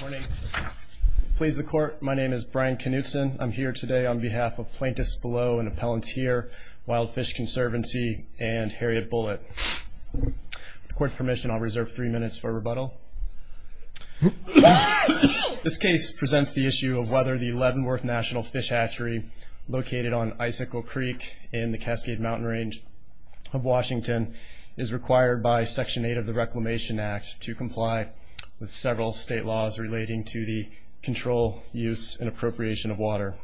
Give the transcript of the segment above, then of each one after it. Morning. Please the court, my name is Brian Knutson. I'm here today on behalf of Plaintiffs Below and Appellanteer, Wild Fish Conservancy, and Harriet Bullitt. With court permission, I'll reserve three minutes for rebuttal. This case presents the issue of whether the Leavenworth National Fish Hatchery, located on Icicle Creek in the Cascade Mountain Range of Washington, is required by Section 8 of the Reclamation Act to comply with several state laws relating to the control, use, and appropriation of water.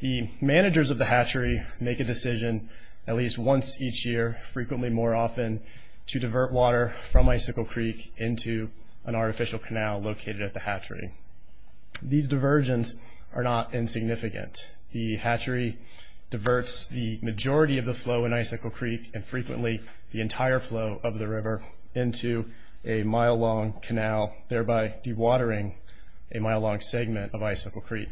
The managers of the hatchery make a decision at least once each year, frequently more often, to divert water from Icicle Creek into an artificial canal located at the hatchery. These diversions are not insignificant. The hatchery diverts the majority of the Icicle Creek, and frequently the entire flow of the river, into a mile-long canal, thereby dewatering a mile-long segment of Icicle Creek.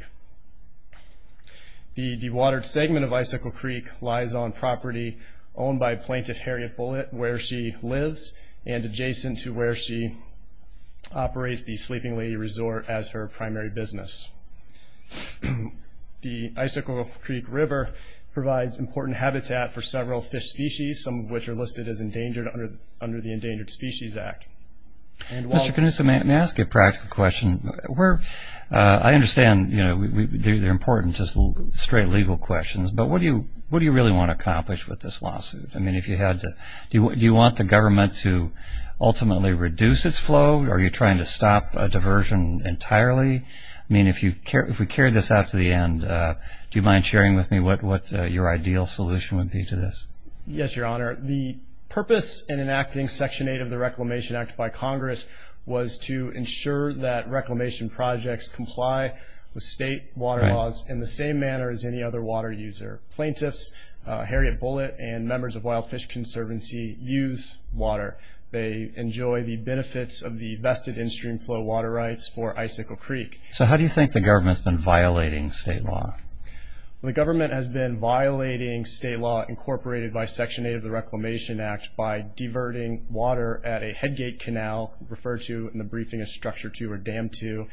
The dewatered segment of Icicle Creek lies on property owned by Plaintiff Harriet Bullitt, where she lives and adjacent to where she operates the Sleeping Lady Resort as her primary business. The Icicle Creek River provides important habitat for several fish species, some of which are listed as endangered under the Endangered Species Act. Mr. Knudson, may I ask a practical question? I understand, you know, they're important, just straight legal questions, but what do you really want to accomplish with this lawsuit? I mean, do you want the government to ultimately reduce its flow, or are you trying to stop a diversion entirely? I mean, if we carry this out to the end, do you mind sharing with me what your ideal solution would be to this? Yes, Your Honor. The purpose in enacting Section 8 of the Reclamation Act by Congress was to ensure that reclamation projects comply with state water laws in the same manner as any other water user. Plaintiffs Harriet Bullitt and members of Wild Fish Conservancy use water. They enjoy the benefits of the vested in streamflow water rights for Icicle Creek. So how do you think the government's been violating state law? The government has been violating state law incorporated by Section 8 of the Reclamation Act by diverting water at a headgate canal, referred to in the briefing as Structure 2 or Dam 2,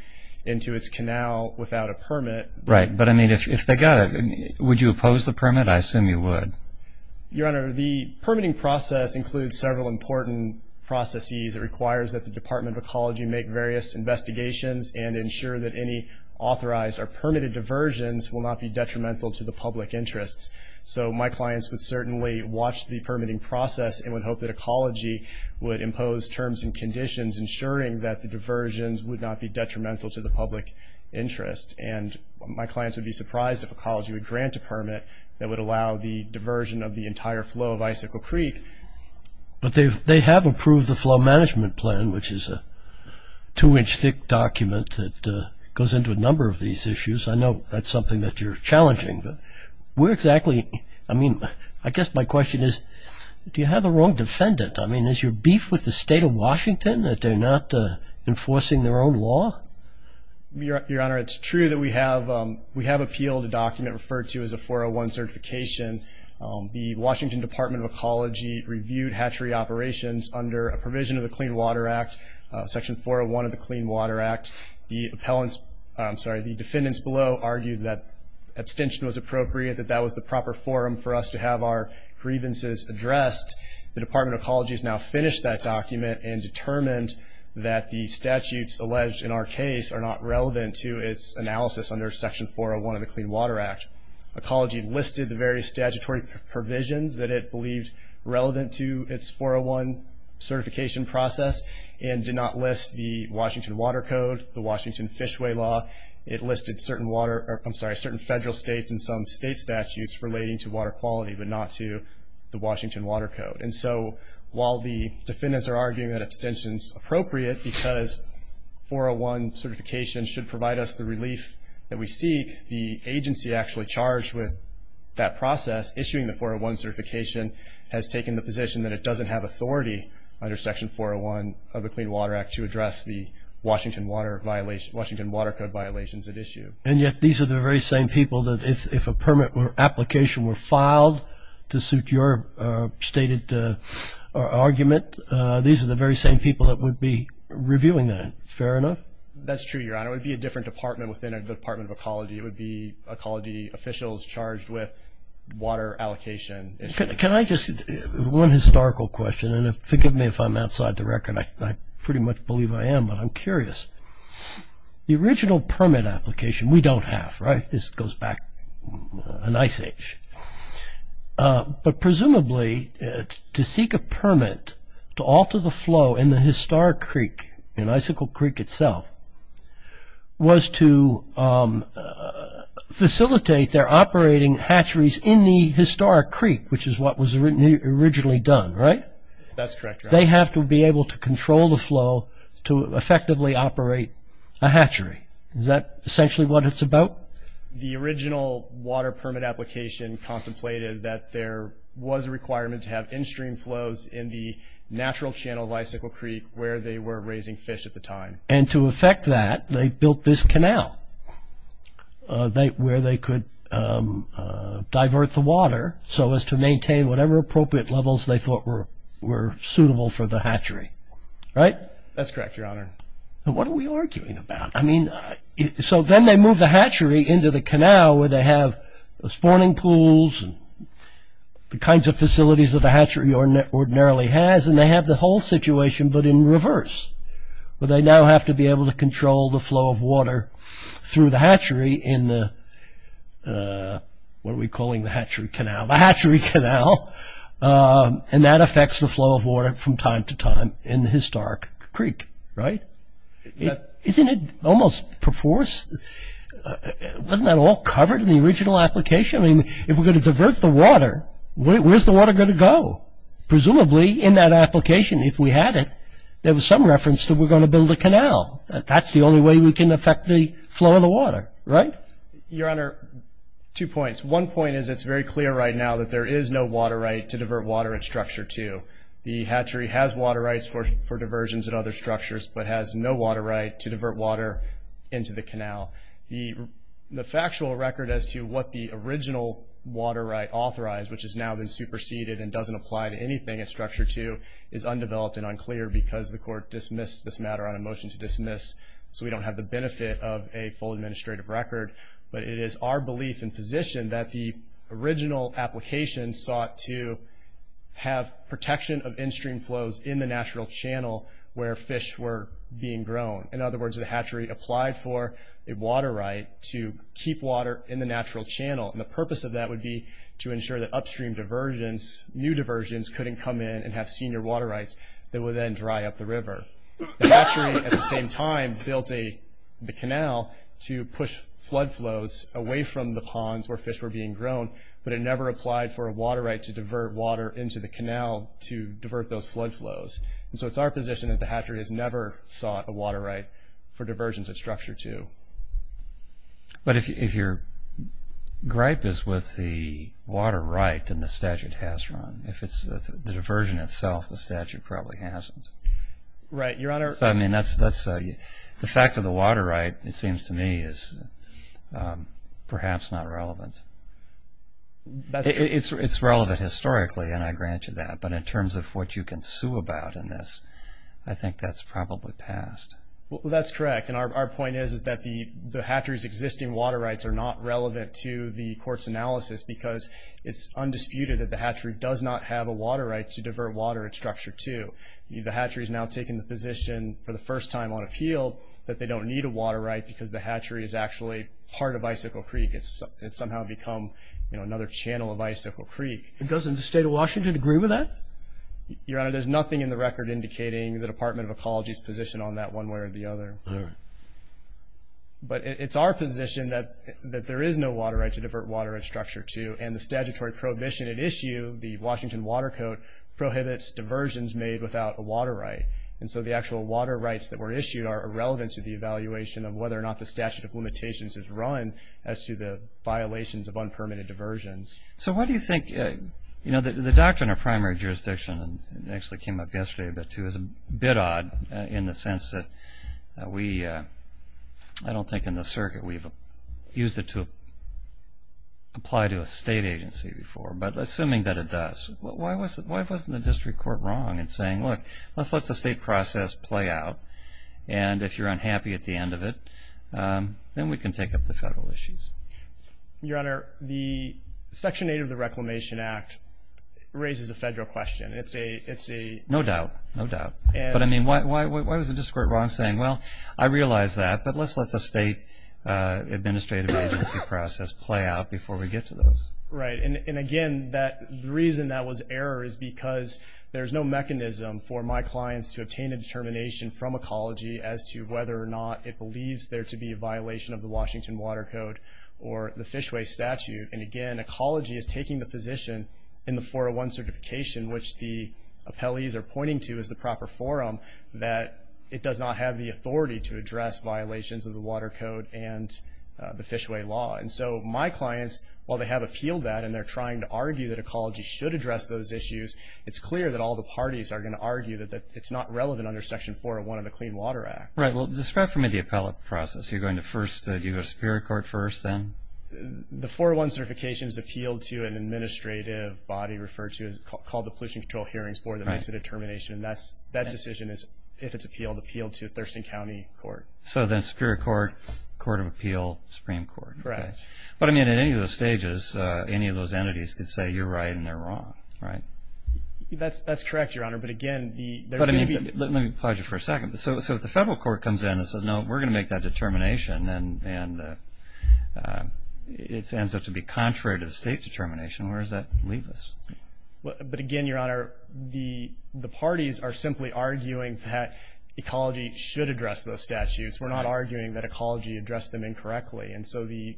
into its canal without a permit. Right, but I mean, if they got it, would you oppose the permit? I assume you would. Your Honor, the permitting process includes several important processes. It requires that the Department of Ecology make various investigations and ensure that any authorized or permitted diversions will not be detrimental to the public interests. So my clients would certainly watch the permitting process and would hope that Ecology would impose terms and conditions ensuring that the diversions would not be detrimental to the public interest. And my clients would be surprised if Ecology would grant a permit that would allow the diversion of the entire flow of Icicle Creek. But they have approved the Flow Management Plan, which is a two-inch thick document that goes into a number of these issues. I know that's something that you're challenging, but where exactly, I mean, I guess my question is, do you have the wrong defendant? I mean, is your beef with the state of Washington that they're not enforcing their own law? Your Honor, it's true that we have appealed a document referred to as a 401 certification. The Washington Department of Ecology reviewed hatchery operations under a provision of the Clean Water Act, Section 401 of the Clean Water Act. The defendants below argued that abstention was appropriate, that that was the proper forum for us to have our grievances addressed. The Department of Ecology has now finished that document and determined that the statutes alleged in our case are not relevant to its analysis under Section 401 of the Clean Water Act. Ecology listed the various statutory provisions that it believed relevant to its 401 certification process and did not list the Washington Water Code, the Washington Fishway Law. It listed certain water, I'm sorry, certain federal states and some state statutes relating to water quality but not to the Washington Water Code. And so while the defendants are arguing that abstention is appropriate because 401 certification should provide us the relief that we seek, the agency actually charged with that process, issuing the application, has taken the position that it doesn't have authority under Section 401 of the Clean Water Act to address the Washington Water Code violations at issue. And yet these are the very same people that if a permit or application were filed to suit your stated argument, these are the very same people that would be reviewing that. Fair enough? That's true, Your Honor. It would be a different department within the Department of Ecology. It would be Can I just, one historical question, and forgive me if I'm outside the record, I pretty much believe I am, but I'm curious. The original permit application we don't have, right? This goes back a nice age, but presumably to seek a permit to alter the flow in the Historic Creek, in Icicle Creek itself, was to facilitate their what was originally done, right? That's correct, Your Honor. They have to be able to control the flow to effectively operate a hatchery. Is that essentially what it's about? The original water permit application contemplated that there was a requirement to have in-stream flows in the natural channel of Icicle Creek where they were raising fish at the time. And to effect that, they built this canal where they could divert the water so as to maintain whatever appropriate levels they thought were suitable for the hatchery, right? That's correct, Your Honor. What are we arguing about? I mean, so then they move the hatchery into the canal where they have the spawning pools and the kinds of facilities that a hatchery ordinarily has, and they have the whole situation but in through the hatchery in the, what are we calling the hatchery canal? The hatchery canal! And that affects the flow of water from time to time in the Historic Creek, right? Isn't it almost perforce? Wasn't that all covered in the original application? I mean, if we're going to divert the water, where's the water going to go? Presumably, in that application, if we had it, there was some reference that we're going to build a canal. That's the only way we can affect the flow of the water, right? Your Honor, two points. One point is it's very clear right now that there is no water right to divert water at Structure 2. The hatchery has water rights for diversions at other structures but has no water right to divert water into the canal. The factual record as to what the original water right authorized, which has now been superseded and doesn't apply to anything at Structure 2, is undeveloped and unclear because the court dismissed this matter on a motion to dismiss, so we don't have the benefit of a full administrative record. But it is our belief and position that the original application sought to have protection of in-stream flows in the natural channel where fish were being grown. In other words, the hatchery applied for a water right to keep water in the natural channel. And the purpose of that would be to ensure that upstream diversions, new diversions, couldn't come in and have senior water rights that would then dry up the river. The hatchery, at the same time, built the canal to push flood flows away from the ponds where fish were being grown, but it never applied for a water right to divert water into the canal to divert those flood flows. And so it's our position that the hatchery has never sought a water right for diversions at Structure 2. But if your gripe is with the water right, then the statute has run. If it's the diversion itself, the statute probably hasn't. Right, Your Honor. So, I mean, that's the fact of the water right, it seems to me, is perhaps not relevant. It's relevant historically, and I grant you that, but in terms of what you can sue about in this, I think that's probably passed. Well, that's correct. And our point is that the hatchery's existing water rights are not relevant to the court's analysis because it's undisputed that the hatchery does not have a water right to divert water at Structure 2. The hatchery's now taking the position, for the first time on appeal, that they don't need a water right because the hatchery is actually part of Bicycle Creek. It's somehow become another channel of Bicycle Creek. Doesn't the state of Washington agree with that? Your Honor, there's nothing in the record indicating the Department of Water. But it's our position that there is no water right to divert water at Structure 2, and the statutory prohibition at issue, the Washington Water Code, prohibits diversions made without a water right. And so the actual water rights that were issued are irrelevant to the evaluation of whether or not the statute of limitations is run as to the violations of unpermitted diversions. So, why do you think, you know, the doctrine of primary jurisdiction, and it actually came up yesterday a bit too, is a bit odd in the way that we, I don't think in the circuit, we've used it to apply to a state agency before. But assuming that it does, why wasn't the district court wrong in saying, look, let's let the state process play out, and if you're unhappy at the end of it, then we can take up the federal issues? Your Honor, the Section 8 of the Reclamation Act raises a federal question. It's a... No doubt. No doubt. But I mean, why was the district court wrong in saying, well, I realize that, but let's let the state administrative agency process play out before we get to those. Right, and again, the reason that was error is because there's no mechanism for my clients to obtain a determination from Ecology as to whether or not it believes there to be a violation of the Washington Water Code or the Fishway Statute. And again, Ecology is taking the position in the 401 certification, which the appellees are pointing to as the proper forum, that it does not have the authority to address violations of the Water Code and the Fishway Law. And so my clients, while they have appealed that and they're trying to argue that Ecology should address those issues, it's clear that all the parties are going to argue that it's not relevant under Section 401 of the Clean Water Act. Right, well, describe for me the appellate process. You're going to first, do you go to Superior Court first, then? The 401 certification is appealed to an administrative body referred to as called the Pollution Control Hearings Board that makes the determination. That decision is, if it's appealed, appealed to Thurston County Court. So then Superior Court, Court of Appeal, Supreme Court. Correct. But I mean, in any of those stages, any of those entities could say you're right and they're wrong, right? That's correct, Your Honor, but again... Let me pause you for a second. So if the federal court comes in and says, no, we're going to make that determination, and it ends up to be a state determination, where does that leave us? But again, Your Honor, the parties are simply arguing that Ecology should address those statutes. We're not arguing that Ecology addressed them incorrectly, and so the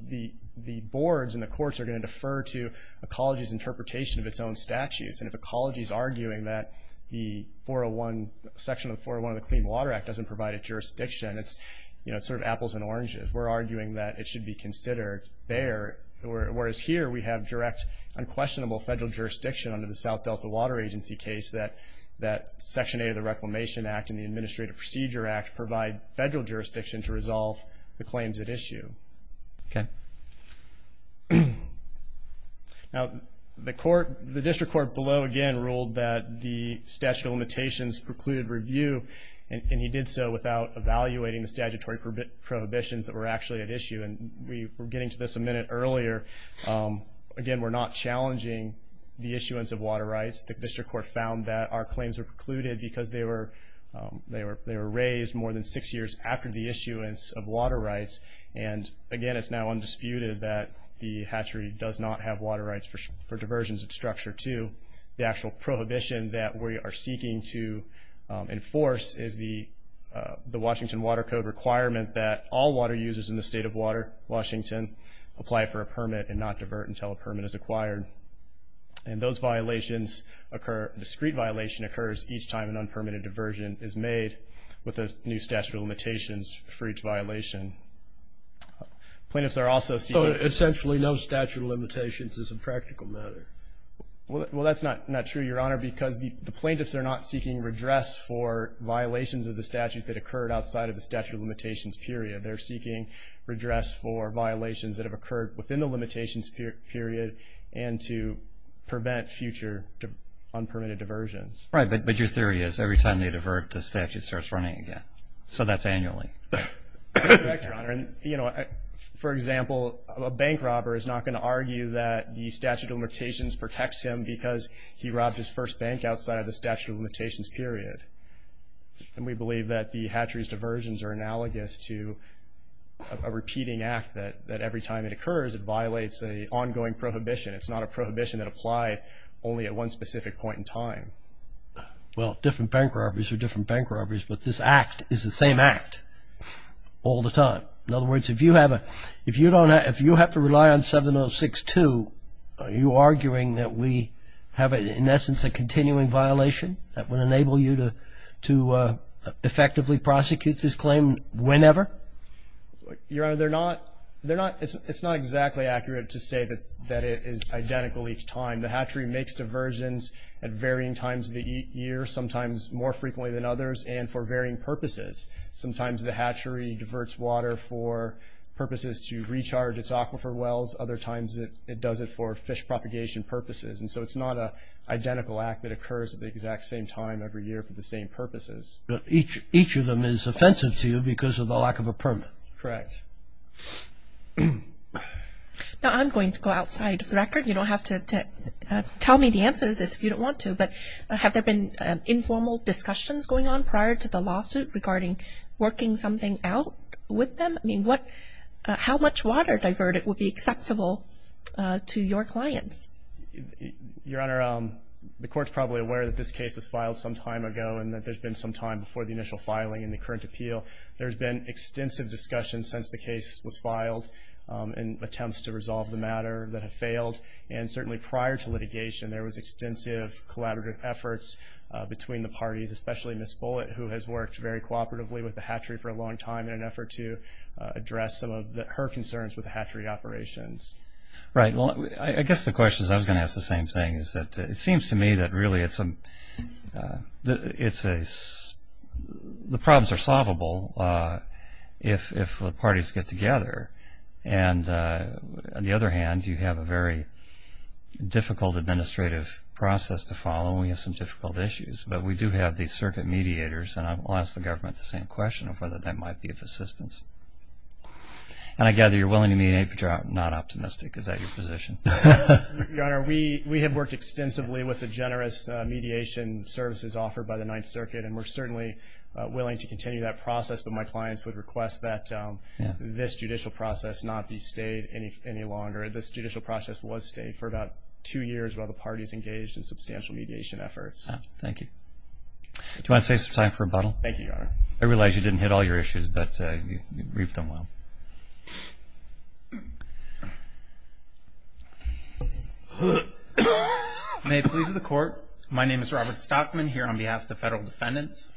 boards and the courts are going to defer to Ecology's interpretation of its own statutes, and if Ecology is arguing that the Section 401 of the Clean Water Act doesn't provide a jurisdiction, it's, you know, it's sort of apples and oranges. We're arguing that it should be considered bare, whereas here we have direct, unquestionable federal jurisdiction under the South Delta Water Agency case, that Section 8 of the Reclamation Act and the Administrative Procedure Act provide federal jurisdiction to resolve the claims at issue. Okay. Now, the court, the district court below, again, ruled that the statute of limitations precluded review, and he did so without evaluating the statutory prohibitions that were actually at issue, and we were getting to this a minute earlier. Again, we're not challenging the issuance of water rights. The district court found that our claims were precluded because they were raised more than six years after the issuance of water rights, and again, it's now undisputed that the hatchery does not have water rights for diversions of structure, too. The actual prohibition that we are seeking to enforce is the Washington Water Code requirement that all water users in the state of Washington apply for a permit and not divert until a permit is acquired, and those violations occur, discrete violation occurs, each time an unpermitted diversion is made with a new statute of limitations for each violation. Plaintiffs are also seeking... So, essentially, no statute of limitations is a practical matter. Well, that's not true, Your Honor, because the plaintiffs are not seeking redress for violations of the statute that occurred outside of the statute of limitations period, and to prevent future unpermitted diversions. Right, but your theory is every time they divert, the statute starts running again. So, that's annually. That's correct, Your Honor, and, you know, for example, a bank robber is not going to argue that the statute of limitations protects him because he robbed his first bank outside of the statute of limitations period, and we believe that the hatchery's are analogous to a repeating act that every time it occurs, it violates an ongoing prohibition. It's not a prohibition that applied only at one specific point in time. Well, different bank robberies are different bank robberies, but this act is the same act all the time. In other words, if you have to rely on 706-2, are you arguing that we have, in essence, a continuing violation that would enable you to effectively prosecute this claim whenever? Your Honor, it's not exactly accurate to say that it is identical each time. The hatchery makes diversions at varying times of the year, sometimes more frequently than others, and for varying purposes. Sometimes the hatchery diverts water for purposes to recharge its aquifer wells. Other times it does it for fish propagation purposes, and so it's not an identical act that occurs at the exact same time every year for the same purposes. But each of them is offensive to you because of the lack of a permit. Correct. Now, I'm going to go outside of the record. You don't have to tell me the answer to this if you don't want to, but have there been informal discussions going on prior to the lawsuit regarding working something out with them? I mean, how much water diverted would be acceptable to your clients? Your Honor, the Court's probably aware that this case was filed some time ago and that there's been some time before the initial filing in the current appeal. There's been extensive discussion since the case was filed in attempts to resolve the matter that have failed, and certainly prior to litigation there was extensive collaborative efforts between the parties, especially Ms. Bullitt, who has worked very cooperatively with the hatchery for a long time in an effort to address some of her concerns with the hatchery operations. Right. Well, I guess the question is I was going to ask the same thing, is that it seems to me that really the problems are solvable if the parties get together, and on the other hand, you have a very difficult administrative process to follow and we have some difficult issues, but we do have these circuit mediators and I'll ask the government the same question of whether that might be of assistance. And I gather you're willing to mediate, but you're not optimistic. Is that your position? Your Honor, we have worked extensively with the generous mediation services offered by the Ninth Circuit and we're certainly willing to continue that process, but my clients would request that this judicial process not be stayed any longer. This judicial process was stayed for about two years while the parties engaged in substantial mediation efforts. Thank you. Do you want to save some time for rebuttal? Thank you, Your Honor. I realize you didn't hit all your issues, but you briefed them well. May it please the Court, my name is Robert Stockman here on behalf of the Federal Defendants.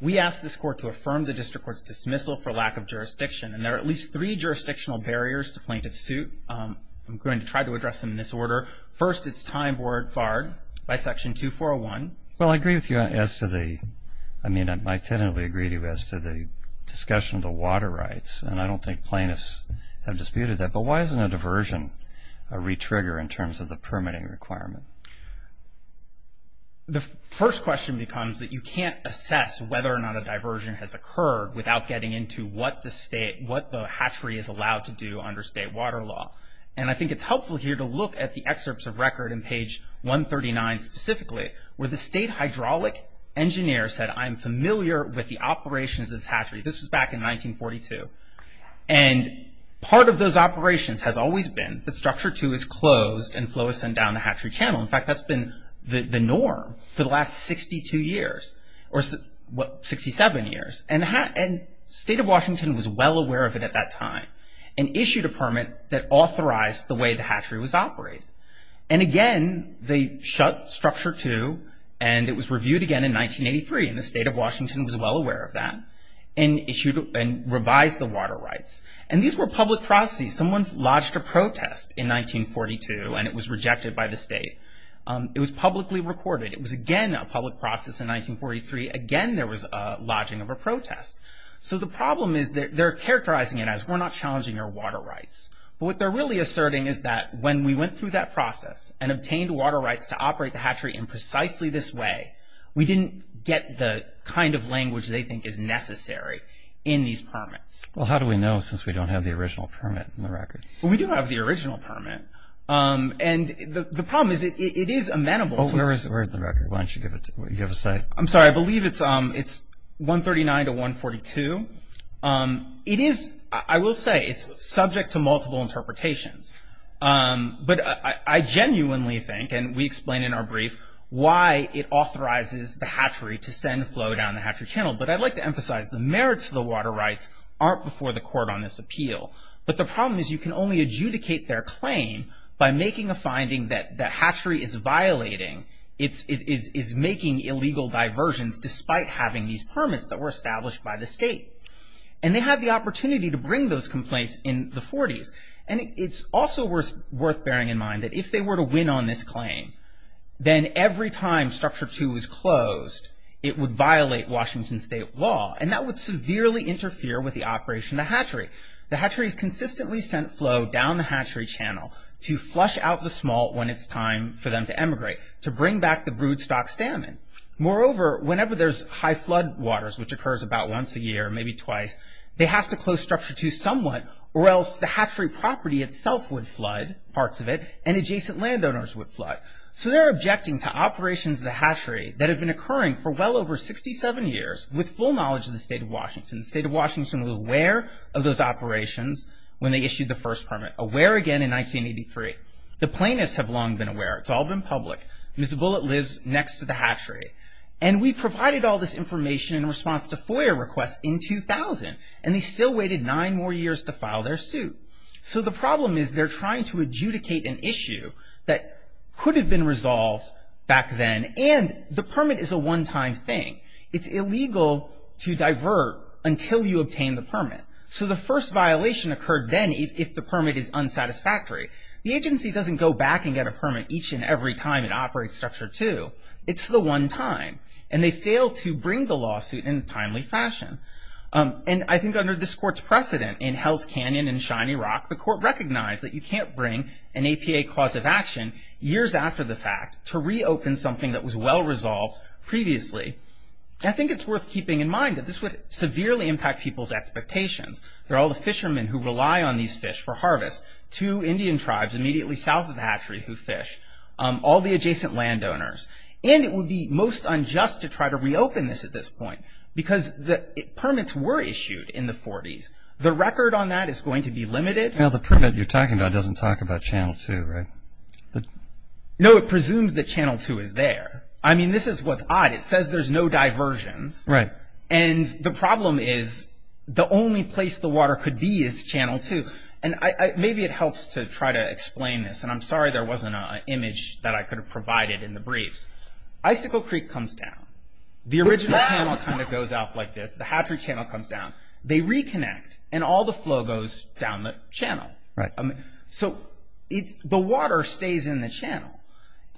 We ask this Court to affirm the District Court's dismissal for lack of jurisdiction, and there are at least three jurisdictional barriers to plaintiff's suit. I'm going to try to address them in this order. First, it's time for it barred by Section 2401. Well, I agree with you as to the, I mean, I tend to agree with you as to the discussion of the water rights, and I don't think plaintiffs have disputed that, but why isn't a diversion a re-trigger in terms of the permitting requirement? The first question becomes that you can't assess whether or not a diversion has occurred without getting into what the state, what the hatchery is allowed to do under state water law. And I think it's helpful here to look at the excerpts of record in page 139 specifically, where the state hydraulic engineer said, I'm familiar with the operations of this hatchery. This was back in 1942. And part of those operations has always been that Structure 2 is closed and flow is sent down the hatchery channel. In fact, that's been the norm for the last 62 years, or 67 years, and the state of Washington was well aware of it at that time, and issued a permit that authorized the way the hatchery was operated. And again, they shut Structure 2, and it was reviewed again in 1983, and the state of Washington was well aware of that, and issued and revised the water rights. And these were public processes. Someone lodged a protest in 1942, and it was rejected by the state. It was publicly recorded. It was again a public process in 1943. Again, there was a lodging of a protest. So the problem is that they're characterizing it as we're not challenging our water rights. But what they're really asserting is that when we went through that process and obtained water rights to operate the hatchery in precisely this way, we didn't get the kind of language they think is necessary in these permits. Well, how do we know since we don't have the original permit in the record? Well, we do have the original permit. And the problem is it is amenable to... Oh, where is it? Where is the record? Why don't you give us a... I'm sorry, I believe it's 139 to 142. It is, I will say, it's subject to multiple interpretations. But I genuinely think, and we explain in our brief, why it authorizes the hatchery to send flow down the hatchery channel. But I'd like to emphasize the merits of the water rights aren't before the court on this appeal. But the problem is you can only adjudicate their claim by making a finding that the hatchery is violating, is making illegal diversions despite having these permits that were established by the state. And they had the opportunity to bring those complaints in the 40s. And it's also worth bearing in mind that if they were to win on this claim, then every time Structure 2 was closed, it would violate Washington state law. And that would severely interfere with the operation of the hatchery. The hatchery's consistently sent flow down the hatchery channel to flush out the smolt when it's time for them to emigrate, to bring back the broodstock salmon. Moreover, whenever there's high flood waters, which occurs about once a year, maybe twice, they have to close Structure 2 somewhat or else the hatchery property itself would flood, parts of it, and adjacent landowners would flood. So they're objecting to operations of the hatchery that have been occurring for well over 67 years with full knowledge of the state of Washington. The state of Washington was aware of those operations when they issued the first permit. Aware again in 1983. The plaintiffs have long been aware. It's all been public. Ms. Bullitt lives next to the hatchery. And we provided all this information in response to FOIA requests in 2000. And they still waited nine more years to file their suit. So the problem is they're trying to adjudicate an issue that could have been resolved back then and the permit is a one-time thing. It's illegal to divert until you obtain the permit. So the first violation occurred then if the permit is unsatisfactory. The agency doesn't go back and get a permit each and every time it operates Structure 2. It's the one time. And they failed to bring the lawsuit in a timely fashion. And I think under this court's precedent in Hell's Canyon and Shiny Rock the court recognized that you can't bring an APA cause of action years after the fact to reopen something that was well resolved previously. I think it's worth keeping in mind that this would severely impact people's expectations. There are all the fishermen who rely on these fish for harvest. Two Indian tribes immediately south All the adjacent landowners. And it would be most unjust to try to reopen this at this point because permits were issued in the 40s. The record on that is going to be limited. Now the permit you're talking about doesn't talk about Channel 2, right? No, it presumes that Channel 2 is there. I mean, this is what's odd. It says there's no diversions. And the problem is the only place the water could be is Channel 2. Maybe it helps to try to explain this. And I'm sorry there wasn't an image that I could have provided in the briefs. Icicle Creek comes down. The original channel kind of goes off like this. The hatchery channel comes down. They reconnect and all the flow goes down the channel. So the water stays in the channel.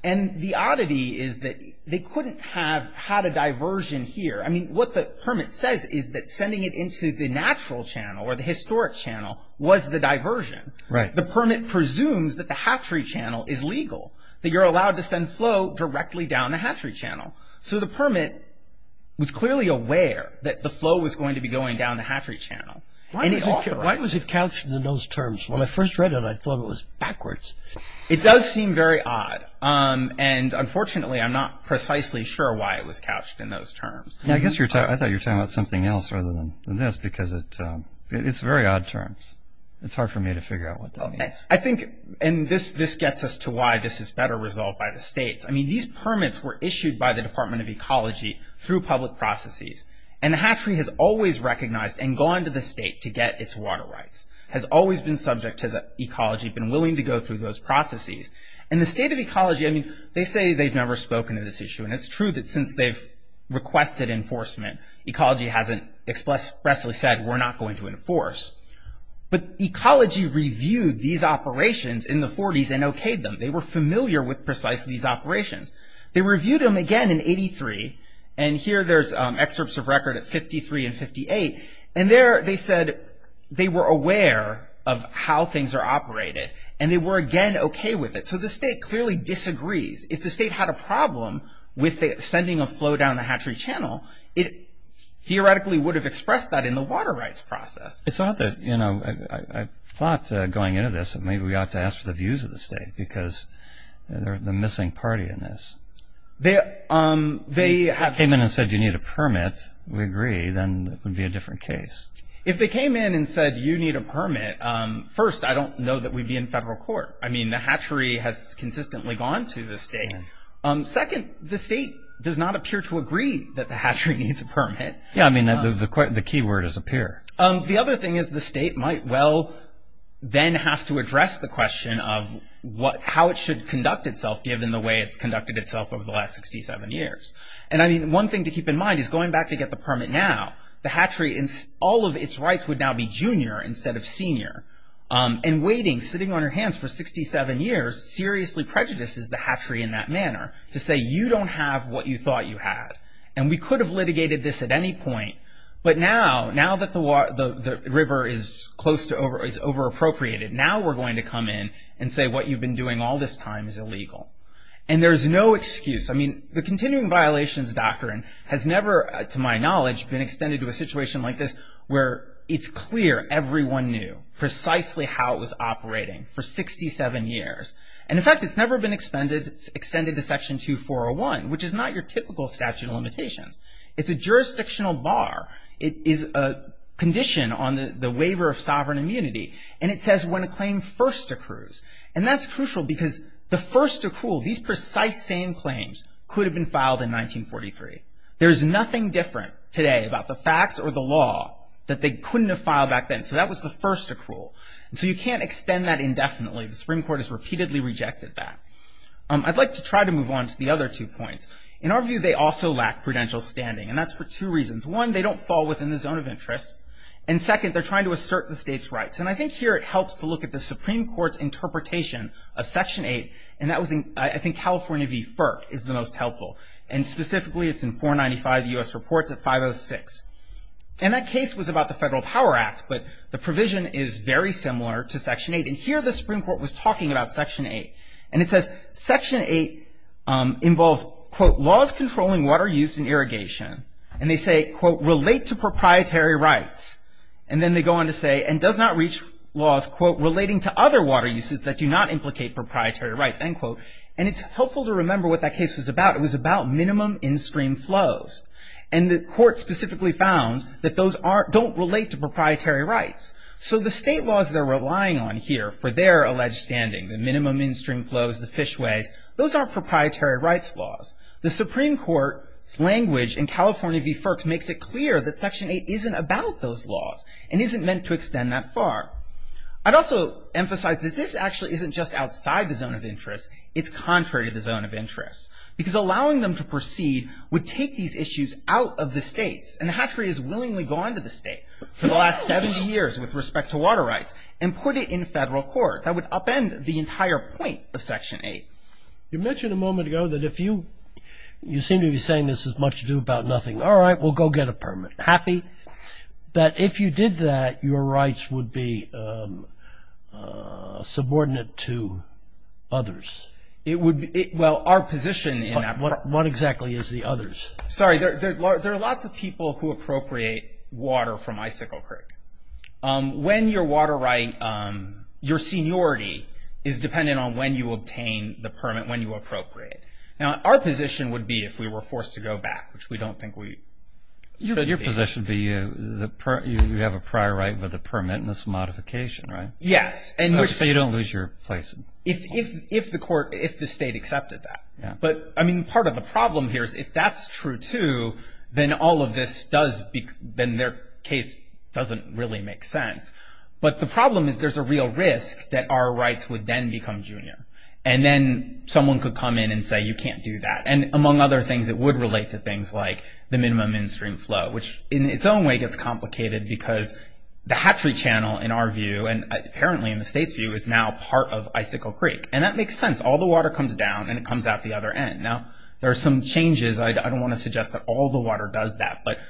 And the oddity is that they couldn't have had a diversion here. I mean, what the permit says is that sending it into the natural channel or the historic channel was the diversion. The permit presumes that the hatchery channel is legal. That you're allowed to send flow directly down the hatchery channel. So the permit was clearly aware that the flow was going to be going down the hatchery channel. Why was it couched in those terms? When I first read it, I thought it was backwards. It does seem very odd. And unfortunately, I'm not precisely sure why it was couched in those terms. I thought you were talking about something else rather than this because it's very odd terms. It's hard for me to figure out what that means. I think, and this gets us to why this is better resolved by the states. I mean, these permits were issued by the Department of Ecology through public processes. And the hatchery has always recognized and gone to the state to get its water rights. Has always been subject to the Ecology, been willing to go through those processes. And the State of Ecology I mean, they say they've never spoken to this issue. And it's true that since they've requested enforcement, Ecology hasn't expressly said, we're not going to enforce. But Ecology reviewed these operations in the 40s and okayed them. They were familiar with precisely these operations. They reviewed them again in 83 and here there's excerpts of record at 53 and 58. And there they said they were aware of how things are operated and they were again okay with it. So the state clearly disagrees. If the state had a problem with sending a flow down the hatchery channel, it theoretically would have expressed that in the water rights process. I thought going into this that maybe we ought to ask for the views of the state because they're the missing party in this. If they came in and said you need a permit, we agree then it would be a different case. If they came in and said you need a permit first, I don't know that we'd be in federal court. I mean the hatchery has consistently gone to the state. Second, the state does not appear to agree that the hatchery needs a permit. Yeah, I mean the key word is appear. The other thing is the state might well then have to address the question of how it should conduct itself given the way it's conducted itself over the last 67 years. And I mean one thing to keep in mind is going back to get the permit now, the hatchery, all of its rights would now be junior instead of senior and waiting, sitting on your hands for 67 years, seriously prejudices the hatchery in that manner to say you don't have what you thought you had. And we could have litigated this at any point, but now now that the river is close to over, is over-appropriated now we're going to come in and say what you've been doing all this time is illegal. And there's no excuse. I mean the continuing violations doctrine has never, to my knowledge, been extended to a situation like this where it's clear everyone knew precisely how it was operating for 67 years. And in fact it's never been extended to Section 2401, which is not your typical statute of limitations. It's a jurisdictional bar. It is a condition on the waiver of sovereign immunity. And it says when a claim first accrues. And that's crucial because the first accrual these precise same claims could have been filed in 1943. There's nothing different today about the facts or the law that they couldn't have filed back then. So that was the first accrual. So you can't extend that indefinitely. The Supreme Court has repeatedly rejected that. I'd like to try to move on to the other two points. In our view they also lack prudential standing. And that's for two reasons. One, they don't fall within the zone of interest. And second, they're trying to assert the state's rights. And I think here it helps to look at the Supreme Court's interpretation of Section 8. And that was in I think California v. FERC is the most helpful. And specifically it's in 495 U.S. Reports at 506. And that case was about the Federal Power Act. But the provision is very similar to Section 8. And here the and it says Section 8 involves, quote, laws controlling water use and irrigation. And they say, quote, relate to proprietary rights. And then they go on to say and does not reach laws, quote, relating to other water uses that do not implicate proprietary rights, end quote. And it's helpful to remember what that case was about. It was about minimum in-stream flows. And the court specifically found that those don't relate to proprietary rights. So the state laws they're relying on here for their alleged standing, the minimum in-stream flows, the fishways, those aren't proprietary rights laws. The Supreme Court's language in California v. FERC makes it clear that Section 8 isn't about those laws and isn't meant to extend that far. I'd also emphasize that this actually isn't just outside the zone of interest. It's contrary to the zone of interest. Because allowing them to proceed would take these issues out of the states. And the Hatchery has willingly gone to the state for the last 70 years with respect to water rights and put it in federal court. That would upend the entire point of Section 8. You mentioned a moment ago that if you, you seem to be saying this is much ado about nothing. All right, we'll go get a permit. Happy. That if you did that, your rights would be subordinate to others. It would be, well, our position in that. What exactly is the others? Sorry, there are lots of people who appropriate water from Icicle Creek. When your water right, your seniority is dependent on when you obtain the permit, when you appropriate. Our position would be if we were forced to go back, which we don't think we should be. Your position would be you have a prior right with a permit and this modification, right? Yes. So you don't lose your place. If the court, if the state accepted that. But, I mean, part of the problem here is if that's true too, then all of this does, then their case doesn't really make sense. But the problem is there's a real risk that our rights would then become junior. And then someone could come in and say you can't do that. And among other things it would relate to things like the minimum in-stream flow, which in its own way gets complicated because the Hatchery Channel, in our view, and apparently in the state's view, is now part of Icicle Creek. And that makes sense. All the water comes down and it comes out the other end. There are some changes. I don't want to suggest that all the water does that. But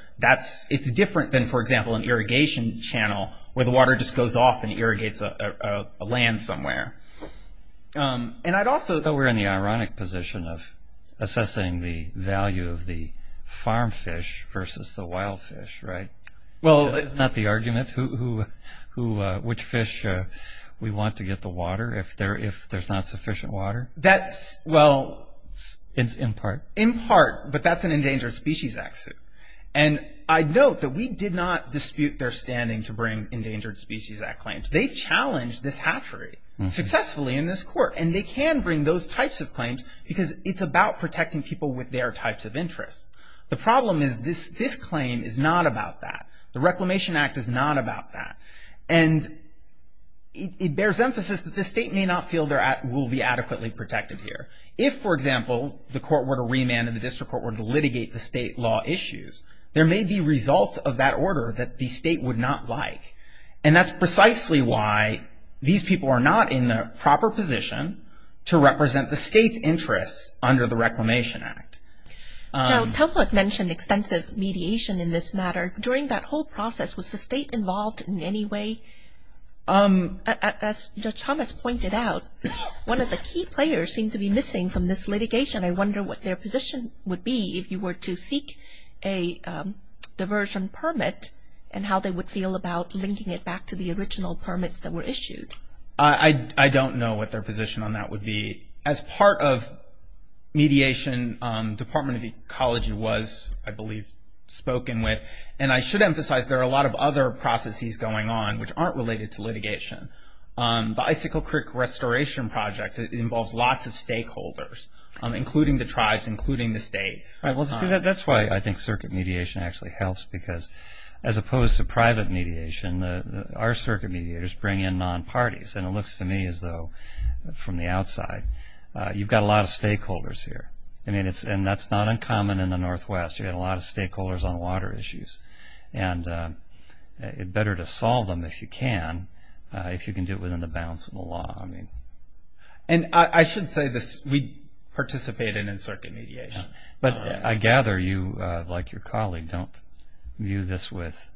it's different than, for example, an irrigation channel where the water just goes off and irrigates a land somewhere. But we're in the ironic position of assessing the value of the farm fish versus the wild fish, right? That's not the argument. Which fish we want to get the water if there's not sufficient water? In part. In part. But that's an Endangered Species Act suit. And I note that we did not dispute their standing to bring Endangered Species Act claims. They challenged this hatchery successfully in this court. And they can bring those types of claims because it's about protecting people with their types of interests. The problem is this claim is not about that. The Reclamation Act is not about that. And it bears emphasis that this state may not feel will be adequately protected here. If, for example, the court were to remand and the district court were to litigate the state law issues, there may be results of that order that the state would not like. And that's precisely why these people are not in the proper position to represent the state's interests under the Reclamation Act. Now, Councilor mentioned extensive mediation in this matter. During that whole process, was the state involved in any way? As Judge Thomas pointed out, one of the key players seemed to be missing from this litigation. I wonder what their position would be if you were to seek a diversion permit and how they would feel about linking it back to the original permits that were issued. I don't know what their position on that would be. As part of mediation, Department of Ecology was, I believe, spoken with. And I should emphasize there are a lot of other processes going on which aren't related to litigation. The Icicle Creek Restoration Project involves lots of stakeholders, including the tribes, including the state. That's why I think circuit mediation actually helps because, as opposed to private mediation, our circuit mediators bring in non-parties. And it looks to me as though, from the outside, you've got a lot of stakeholders here. And that's not uncommon in the Northwest. You've got a lot of stakeholders on water issues. And it's better to if you can do it within the bounds of the law. And I should say this, we participate in circuit mediation. But I gather you, like your colleague, don't view this with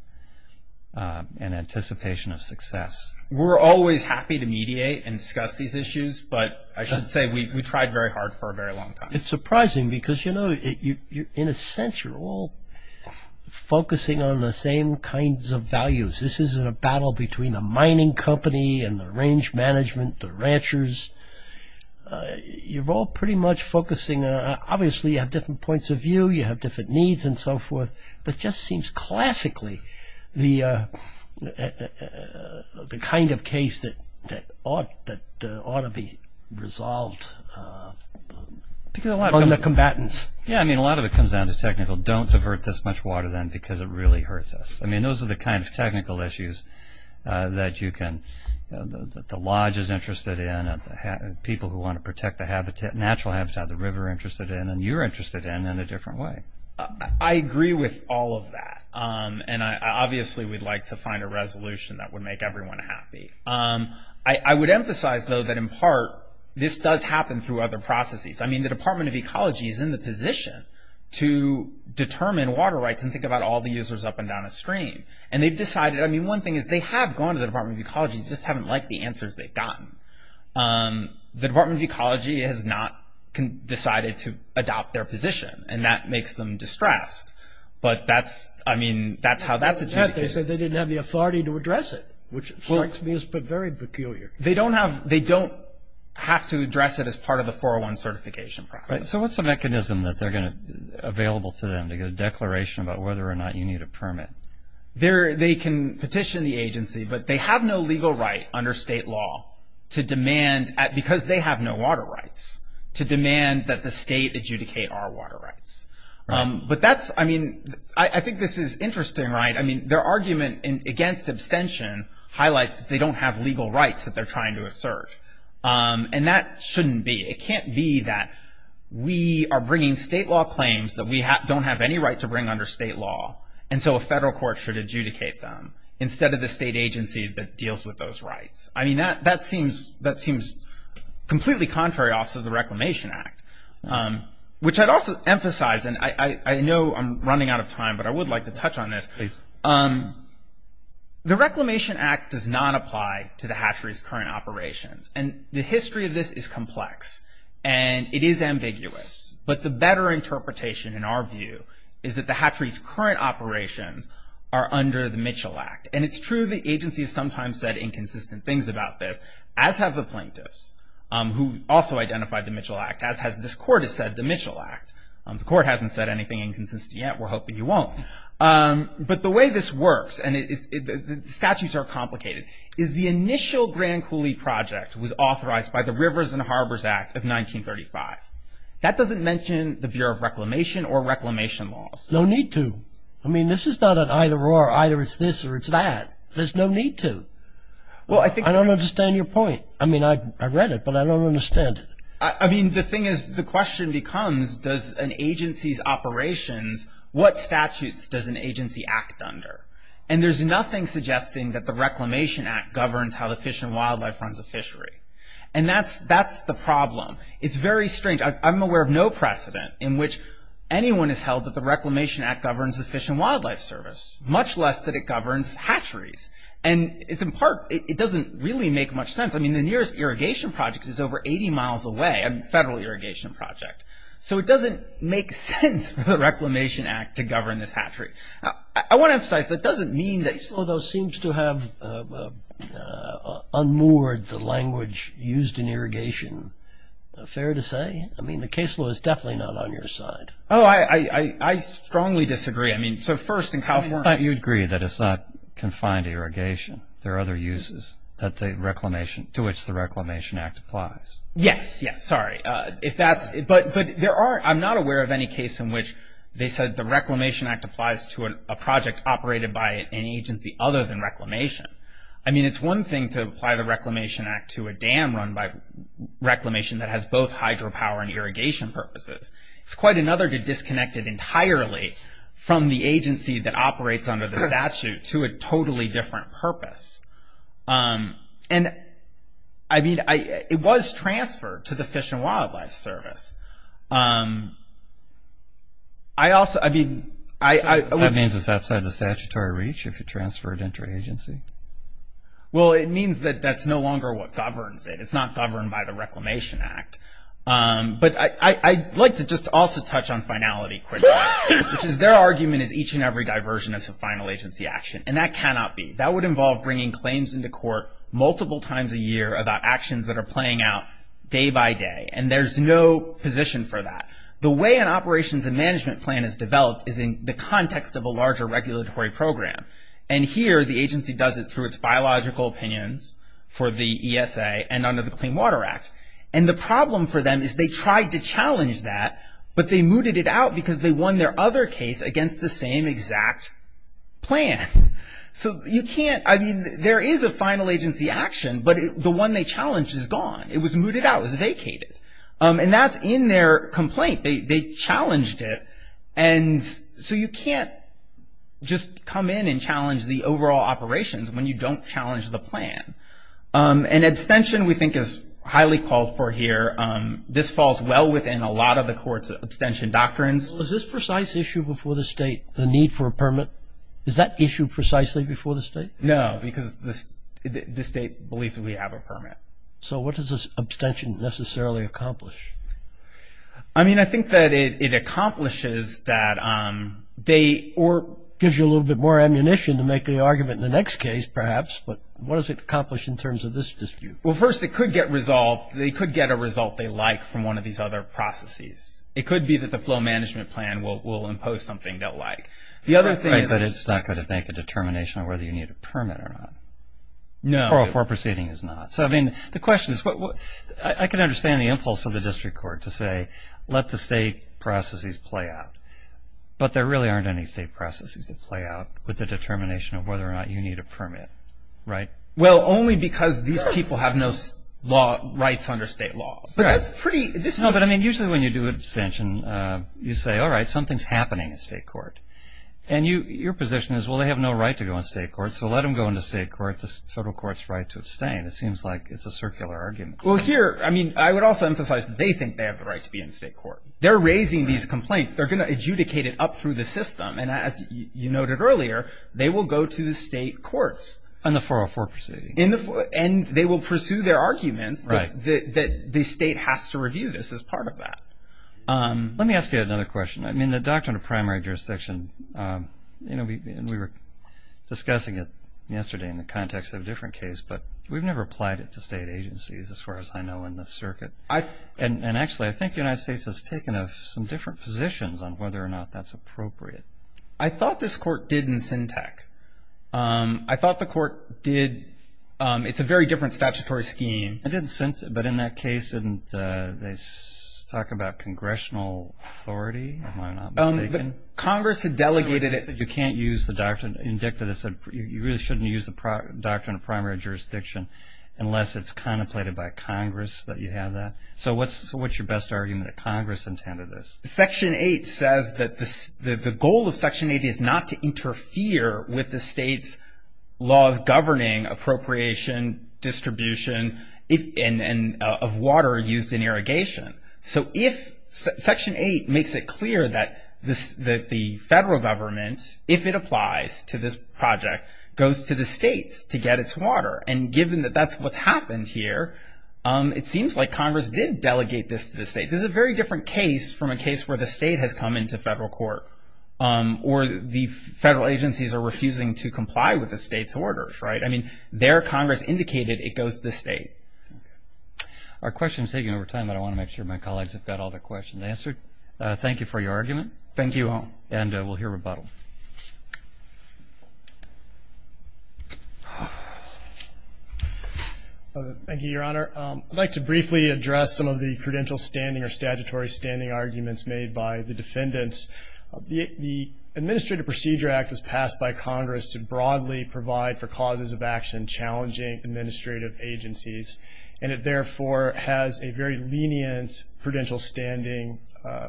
an anticipation of success. We're always happy to mediate and discuss these issues, but I should say we tried very hard for a very long time. It's surprising because, you know, in a sense, you're all focusing on the same kinds of values. This isn't a battle between the mining company and the range management, the ranchers. You're all pretty much focusing on obviously you have different points of view, you have different needs and so forth. But it just seems classically the kind of case that ought to be resolved on the combatants. A lot of it comes down to technical. Don't divert this much water then because it really hurts us. I mean, those are the kind of technical issues that you can the lodge is interested in, people who want to protect the natural habitat of the river are interested in, and you're interested in, in a different way. I agree with all of that. And obviously we'd like to find a resolution that would make everyone happy. I would emphasize, though, that in part, this does happen through other processes. I mean, the Department of Ecology is in the position to determine water rights and think about all the users up and down the stream. And they've decided, I mean, one thing is they have gone to the Department of Ecology, they just haven't liked the answers they've gotten. The Department of Ecology has not decided to adopt their position, and that makes them distressed. But that's, I mean, that's how that's a... They said they didn't have the authority to address it, which strikes me as very peculiar. They don't have, they don't have to address it as part of the 401 certification process. So what's the mechanism that they're going to have available to them to get a declaration about whether or not you need a permit? They can petition the agency, but they have no legal right under state law to demand, because they have no water rights, to demand that the state adjudicate our water rights. But that's, I mean, I think this is interesting, right? I mean, their argument against abstention highlights that they don't have legal rights that they're trying to assert. And that shouldn't be. It can't be that we are bringing state law claims that we don't have any right to bring under state law, and so a federal court should adjudicate them instead of the state agency that deals with those rights. I mean, that seems completely contrary also to the Reclamation Act, which I'd also emphasize, and I know I'm running out of time, but I would like to touch on this. The Reclamation Act does not apply to the hatchery's current operations, and the history of this is complex, and it is ambiguous. But the better interpretation, in our view, is that the hatchery's current operations are under the Mitchell Act. And it's true the agency has sometimes said inconsistent things about this, as have the plaintiffs, who also identified the Mitchell Act, as has this court has said, the Mitchell Act. The court hasn't said anything inconsistent yet. We're hoping you won't. But the way this works, and the statutes are complicated, is the initial Grand Coulee Project was authorized by the Rivers and Harbors Act of 1935. That doesn't mention the Bureau of Reclamation or Reclamation laws. No need to. I mean, this is not an either-or, either it's this or it's that. There's no need to. I don't understand your point. I mean, I read it, but I don't understand it. I mean, the thing is, the question becomes, does an agency's operations, what statutes does an agency act under? And there's nothing suggesting that the Reclamation Act governs how the Fish and Wildlife runs a fishery. And that's the problem. It's very strange. I'm aware of no precedent in which anyone has held that the Reclamation Act governs the Fish and Wildlife Service, much less that it governs hatcheries. And it's in part, it doesn't really make much sense. I mean, the nearest irrigation project is over 80 miles away, a federal irrigation project. So it doesn't make sense for the Reclamation Act to govern this hatchery. I want to emphasize, that doesn't mean that the case law, though, seems to have unmoored the language used in irrigation. Fair to say? I mean, the case law is definitely not on your side. Oh, I strongly disagree. I mean, so first, in California You agree that it's not confined to irrigation. There are other uses to which the Reclamation Act applies. Yes, yes. Sorry. If that's... I'm not aware of any case in which they said the Reclamation Act applies to a project operated by an agency other than Reclamation. I mean, it's one thing to apply the Reclamation Act to a dam run by Reclamation that has both hydropower and irrigation purposes. It's quite another to disconnect it entirely from the agency that operates under the statute to a totally different purpose. And, I mean, it was transferred to the Fish and Wildlife Service. I also... I mean... That means it's outside the statutory reach if you transfer it into an agency? Well, it means that that's no longer what governs it. It's not governed by the Reclamation Act. But I'd like to just also touch on Finality Critter, which is their argument is each and every diversion is a final agency action, and that cannot be. That would involve bringing claims into court multiple times a year about actions that are playing out day by day, and there's no position for that. The way an operations and management plan is developed is in the context of a larger regulatory program. And here, the agency does it through its biological opinions for the ESA and under the Clean Water Act. And the problem for them is they tried to challenge that, but they mooted it out because they won their other case against the same exact plan. So you can't... I mean, there is a final agency action, but the one they challenged is gone. It was mooted out. It was vacated. And that's in their complaint. They challenged it, and so you can't just come in and challenge the overall operations when you don't challenge the plan. And abstention, we think, is highly called for here. This falls well within a lot of the court's abstention doctrines. Is this precise issue before the state, the need for a permit? Is that issue precisely before the state? No, because the state believes that we have a permit. So what does this abstention necessarily accomplish? I mean, I think that it accomplishes that they... or gives you a little bit more ammunition to make the argument in the next case, perhaps. But what does it accomplish in terms of this dispute? Well, first, it could get resolved. They could get a result they like from one of these other processes. It could be that the flow management plan will impose something they'll like. The other thing is... But it's not going to make a determination on whether you need a permit or not. No. Or a fore proceeding is not. So, I mean, the question is... I can understand the impulse of the district court to say let the state processes play out. But there really aren't any state processes that play out with the determination of whether or not you need a permit. Right? Well, only because these people have no rights under state law. But that's pretty... No, but I mean, usually when you do an abstention, you say, alright, something's happening in state court. And your position is, well, they have no right to go in state court, so let them go into state court. The federal court's right to abstain. It seems like it's a circular argument. Well, here, I mean, I would also emphasize that they think they have the right to be in state court. They're raising these complaints. They're going to adjudicate it up through the system. And as you noted earlier, they will go to the state courts. On the 404 proceeding. In the... And they will pursue their arguments that the state has to review this as part of that. Let me ask you another question. I mean, the doctrine of primary jurisdiction, you know, we were discussing it yesterday in the context of a different case, but we've never applied it to state agencies, as far as I know, in this circuit. I... And actually, I think the United States has taken some different positions on whether or not that's appropriate. I thought this court did in Sintac. I thought the court did... It's a very different statutory scheme. It did in Sintac, but in that case, didn't they talk about Congressional authority, if I'm not mistaken? Congress had delegated it... You can't use the doctrine... You really shouldn't use the doctrine of primary jurisdiction unless it's contemplated by Congress that you have that. So what's your best argument that Congress intended this? Section 8 says that the goal of Section 8 is not to interfere with the state's laws governing appropriation, distribution, and of water used in irrigation. So if... Section 8 makes it clear that the federal government, if it applies to this project, goes to the states to get its water. And given that that's what's happened here, it seems like Congress did delegate this to the state. This is a very different case from a case where the state has come into federal court or the federal agencies are refusing to comply with the state's orders, right? I mean, there, Congress indicated it goes to the state. Our question is taking over time, but I want to make sure my colleagues have got all their questions answered. Thank you for your argument. Thank you. And we'll hear rebuttal. Thank you, Your Honor. I'd like to briefly address some of the credential standing or statutory standing arguments made by the defendants. The Administrative Procedure Act was passed by Congress to broadly provide for causes of action challenging administrative agencies. And it therefore has a very lenient credential standing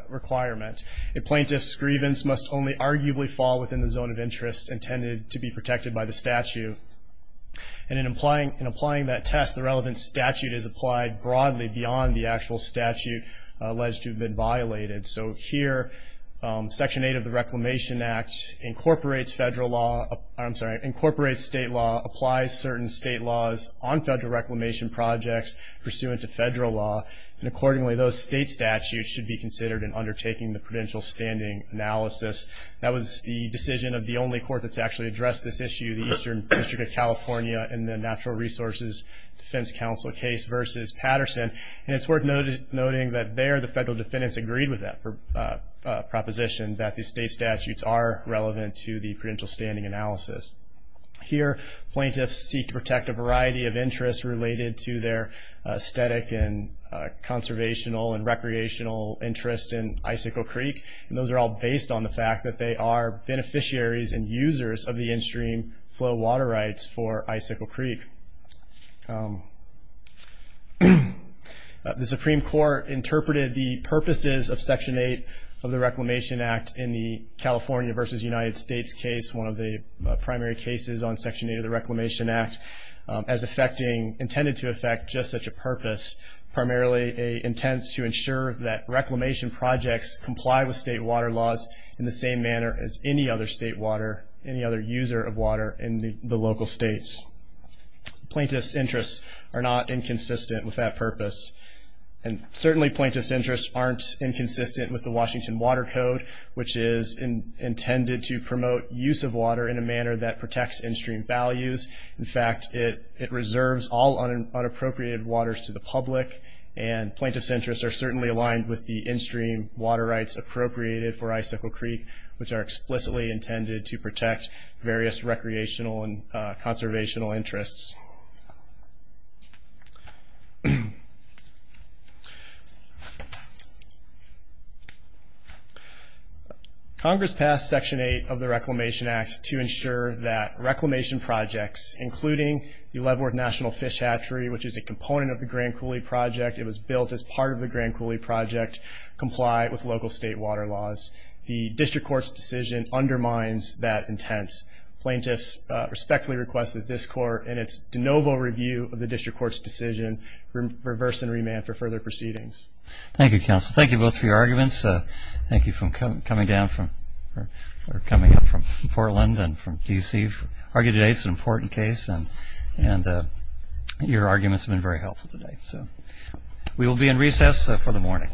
requirement. A plaintiff's grievance must only arguably fall within the zone of interest intended to be protected by the statute. And in applying that test, the relevant statute is applied broadly beyond the actual statute alleged to have been violated. So here, Section 8 of the Reclamation Act incorporates federal law, I'm sorry, incorporates state law, applies certain state laws on federal reclamation projects pursuant to federal law. And accordingly, those state statutes should be considered in undertaking the credential standing analysis. That was the decision of the only court that's actually addressed this issue, the Eastern District of California in the Natural Resources Defense Council case versus Patterson. And it's worth noting that there, the federal defendants agreed with that proposition, that the state statutes are relevant to the credential standing analysis. Here, plaintiffs seek to protect a variety of interests related to their aesthetic and conservational and recreational interest in Icicle Creek. And those are all based on the fact that they are beneficiaries and users of the in-stream flow water rights for Icicle Creek. The Supreme Court interpreted the purposes of Section 8 of the Reclamation Act in the primary cases on Section 8 of the Reclamation Act as intended to affect just such a purpose, primarily intent to ensure that reclamation projects comply with state water laws in the same manner as any other state water, any other user of water in the local states. Plaintiffs' interests are not inconsistent with that purpose. And certainly plaintiffs' interests aren't inconsistent with the Washington Water Code, which is intended to promote use of water in a manner that protects in-stream values. In fact, it reserves all unappropriated waters to the public, and plaintiffs' interests are certainly aligned with the in-stream water rights appropriated for Icicle Creek, which are explicitly intended to protect various recreational and conservational interests. Congress passed Section 8 of the Reclamation Act to ensure that reclamation projects, including the Leadworth National Fish Hatchery, which is a component of the Grand Coulee Project, it was built as part of the Grand Coulee Project, comply with local state water laws. The District Court's decision undermines that intent. Plaintiffs respectfully request that this Court, in its discretionary position, de novo review of the District Court's decision reverse and remand for further proceedings. Thank you, counsel. Thank you both for your arguments. Thank you for coming down from Portland and from D.C. I argue today it's an important case, and your arguments have been very helpful today. We will be in recess for the morning.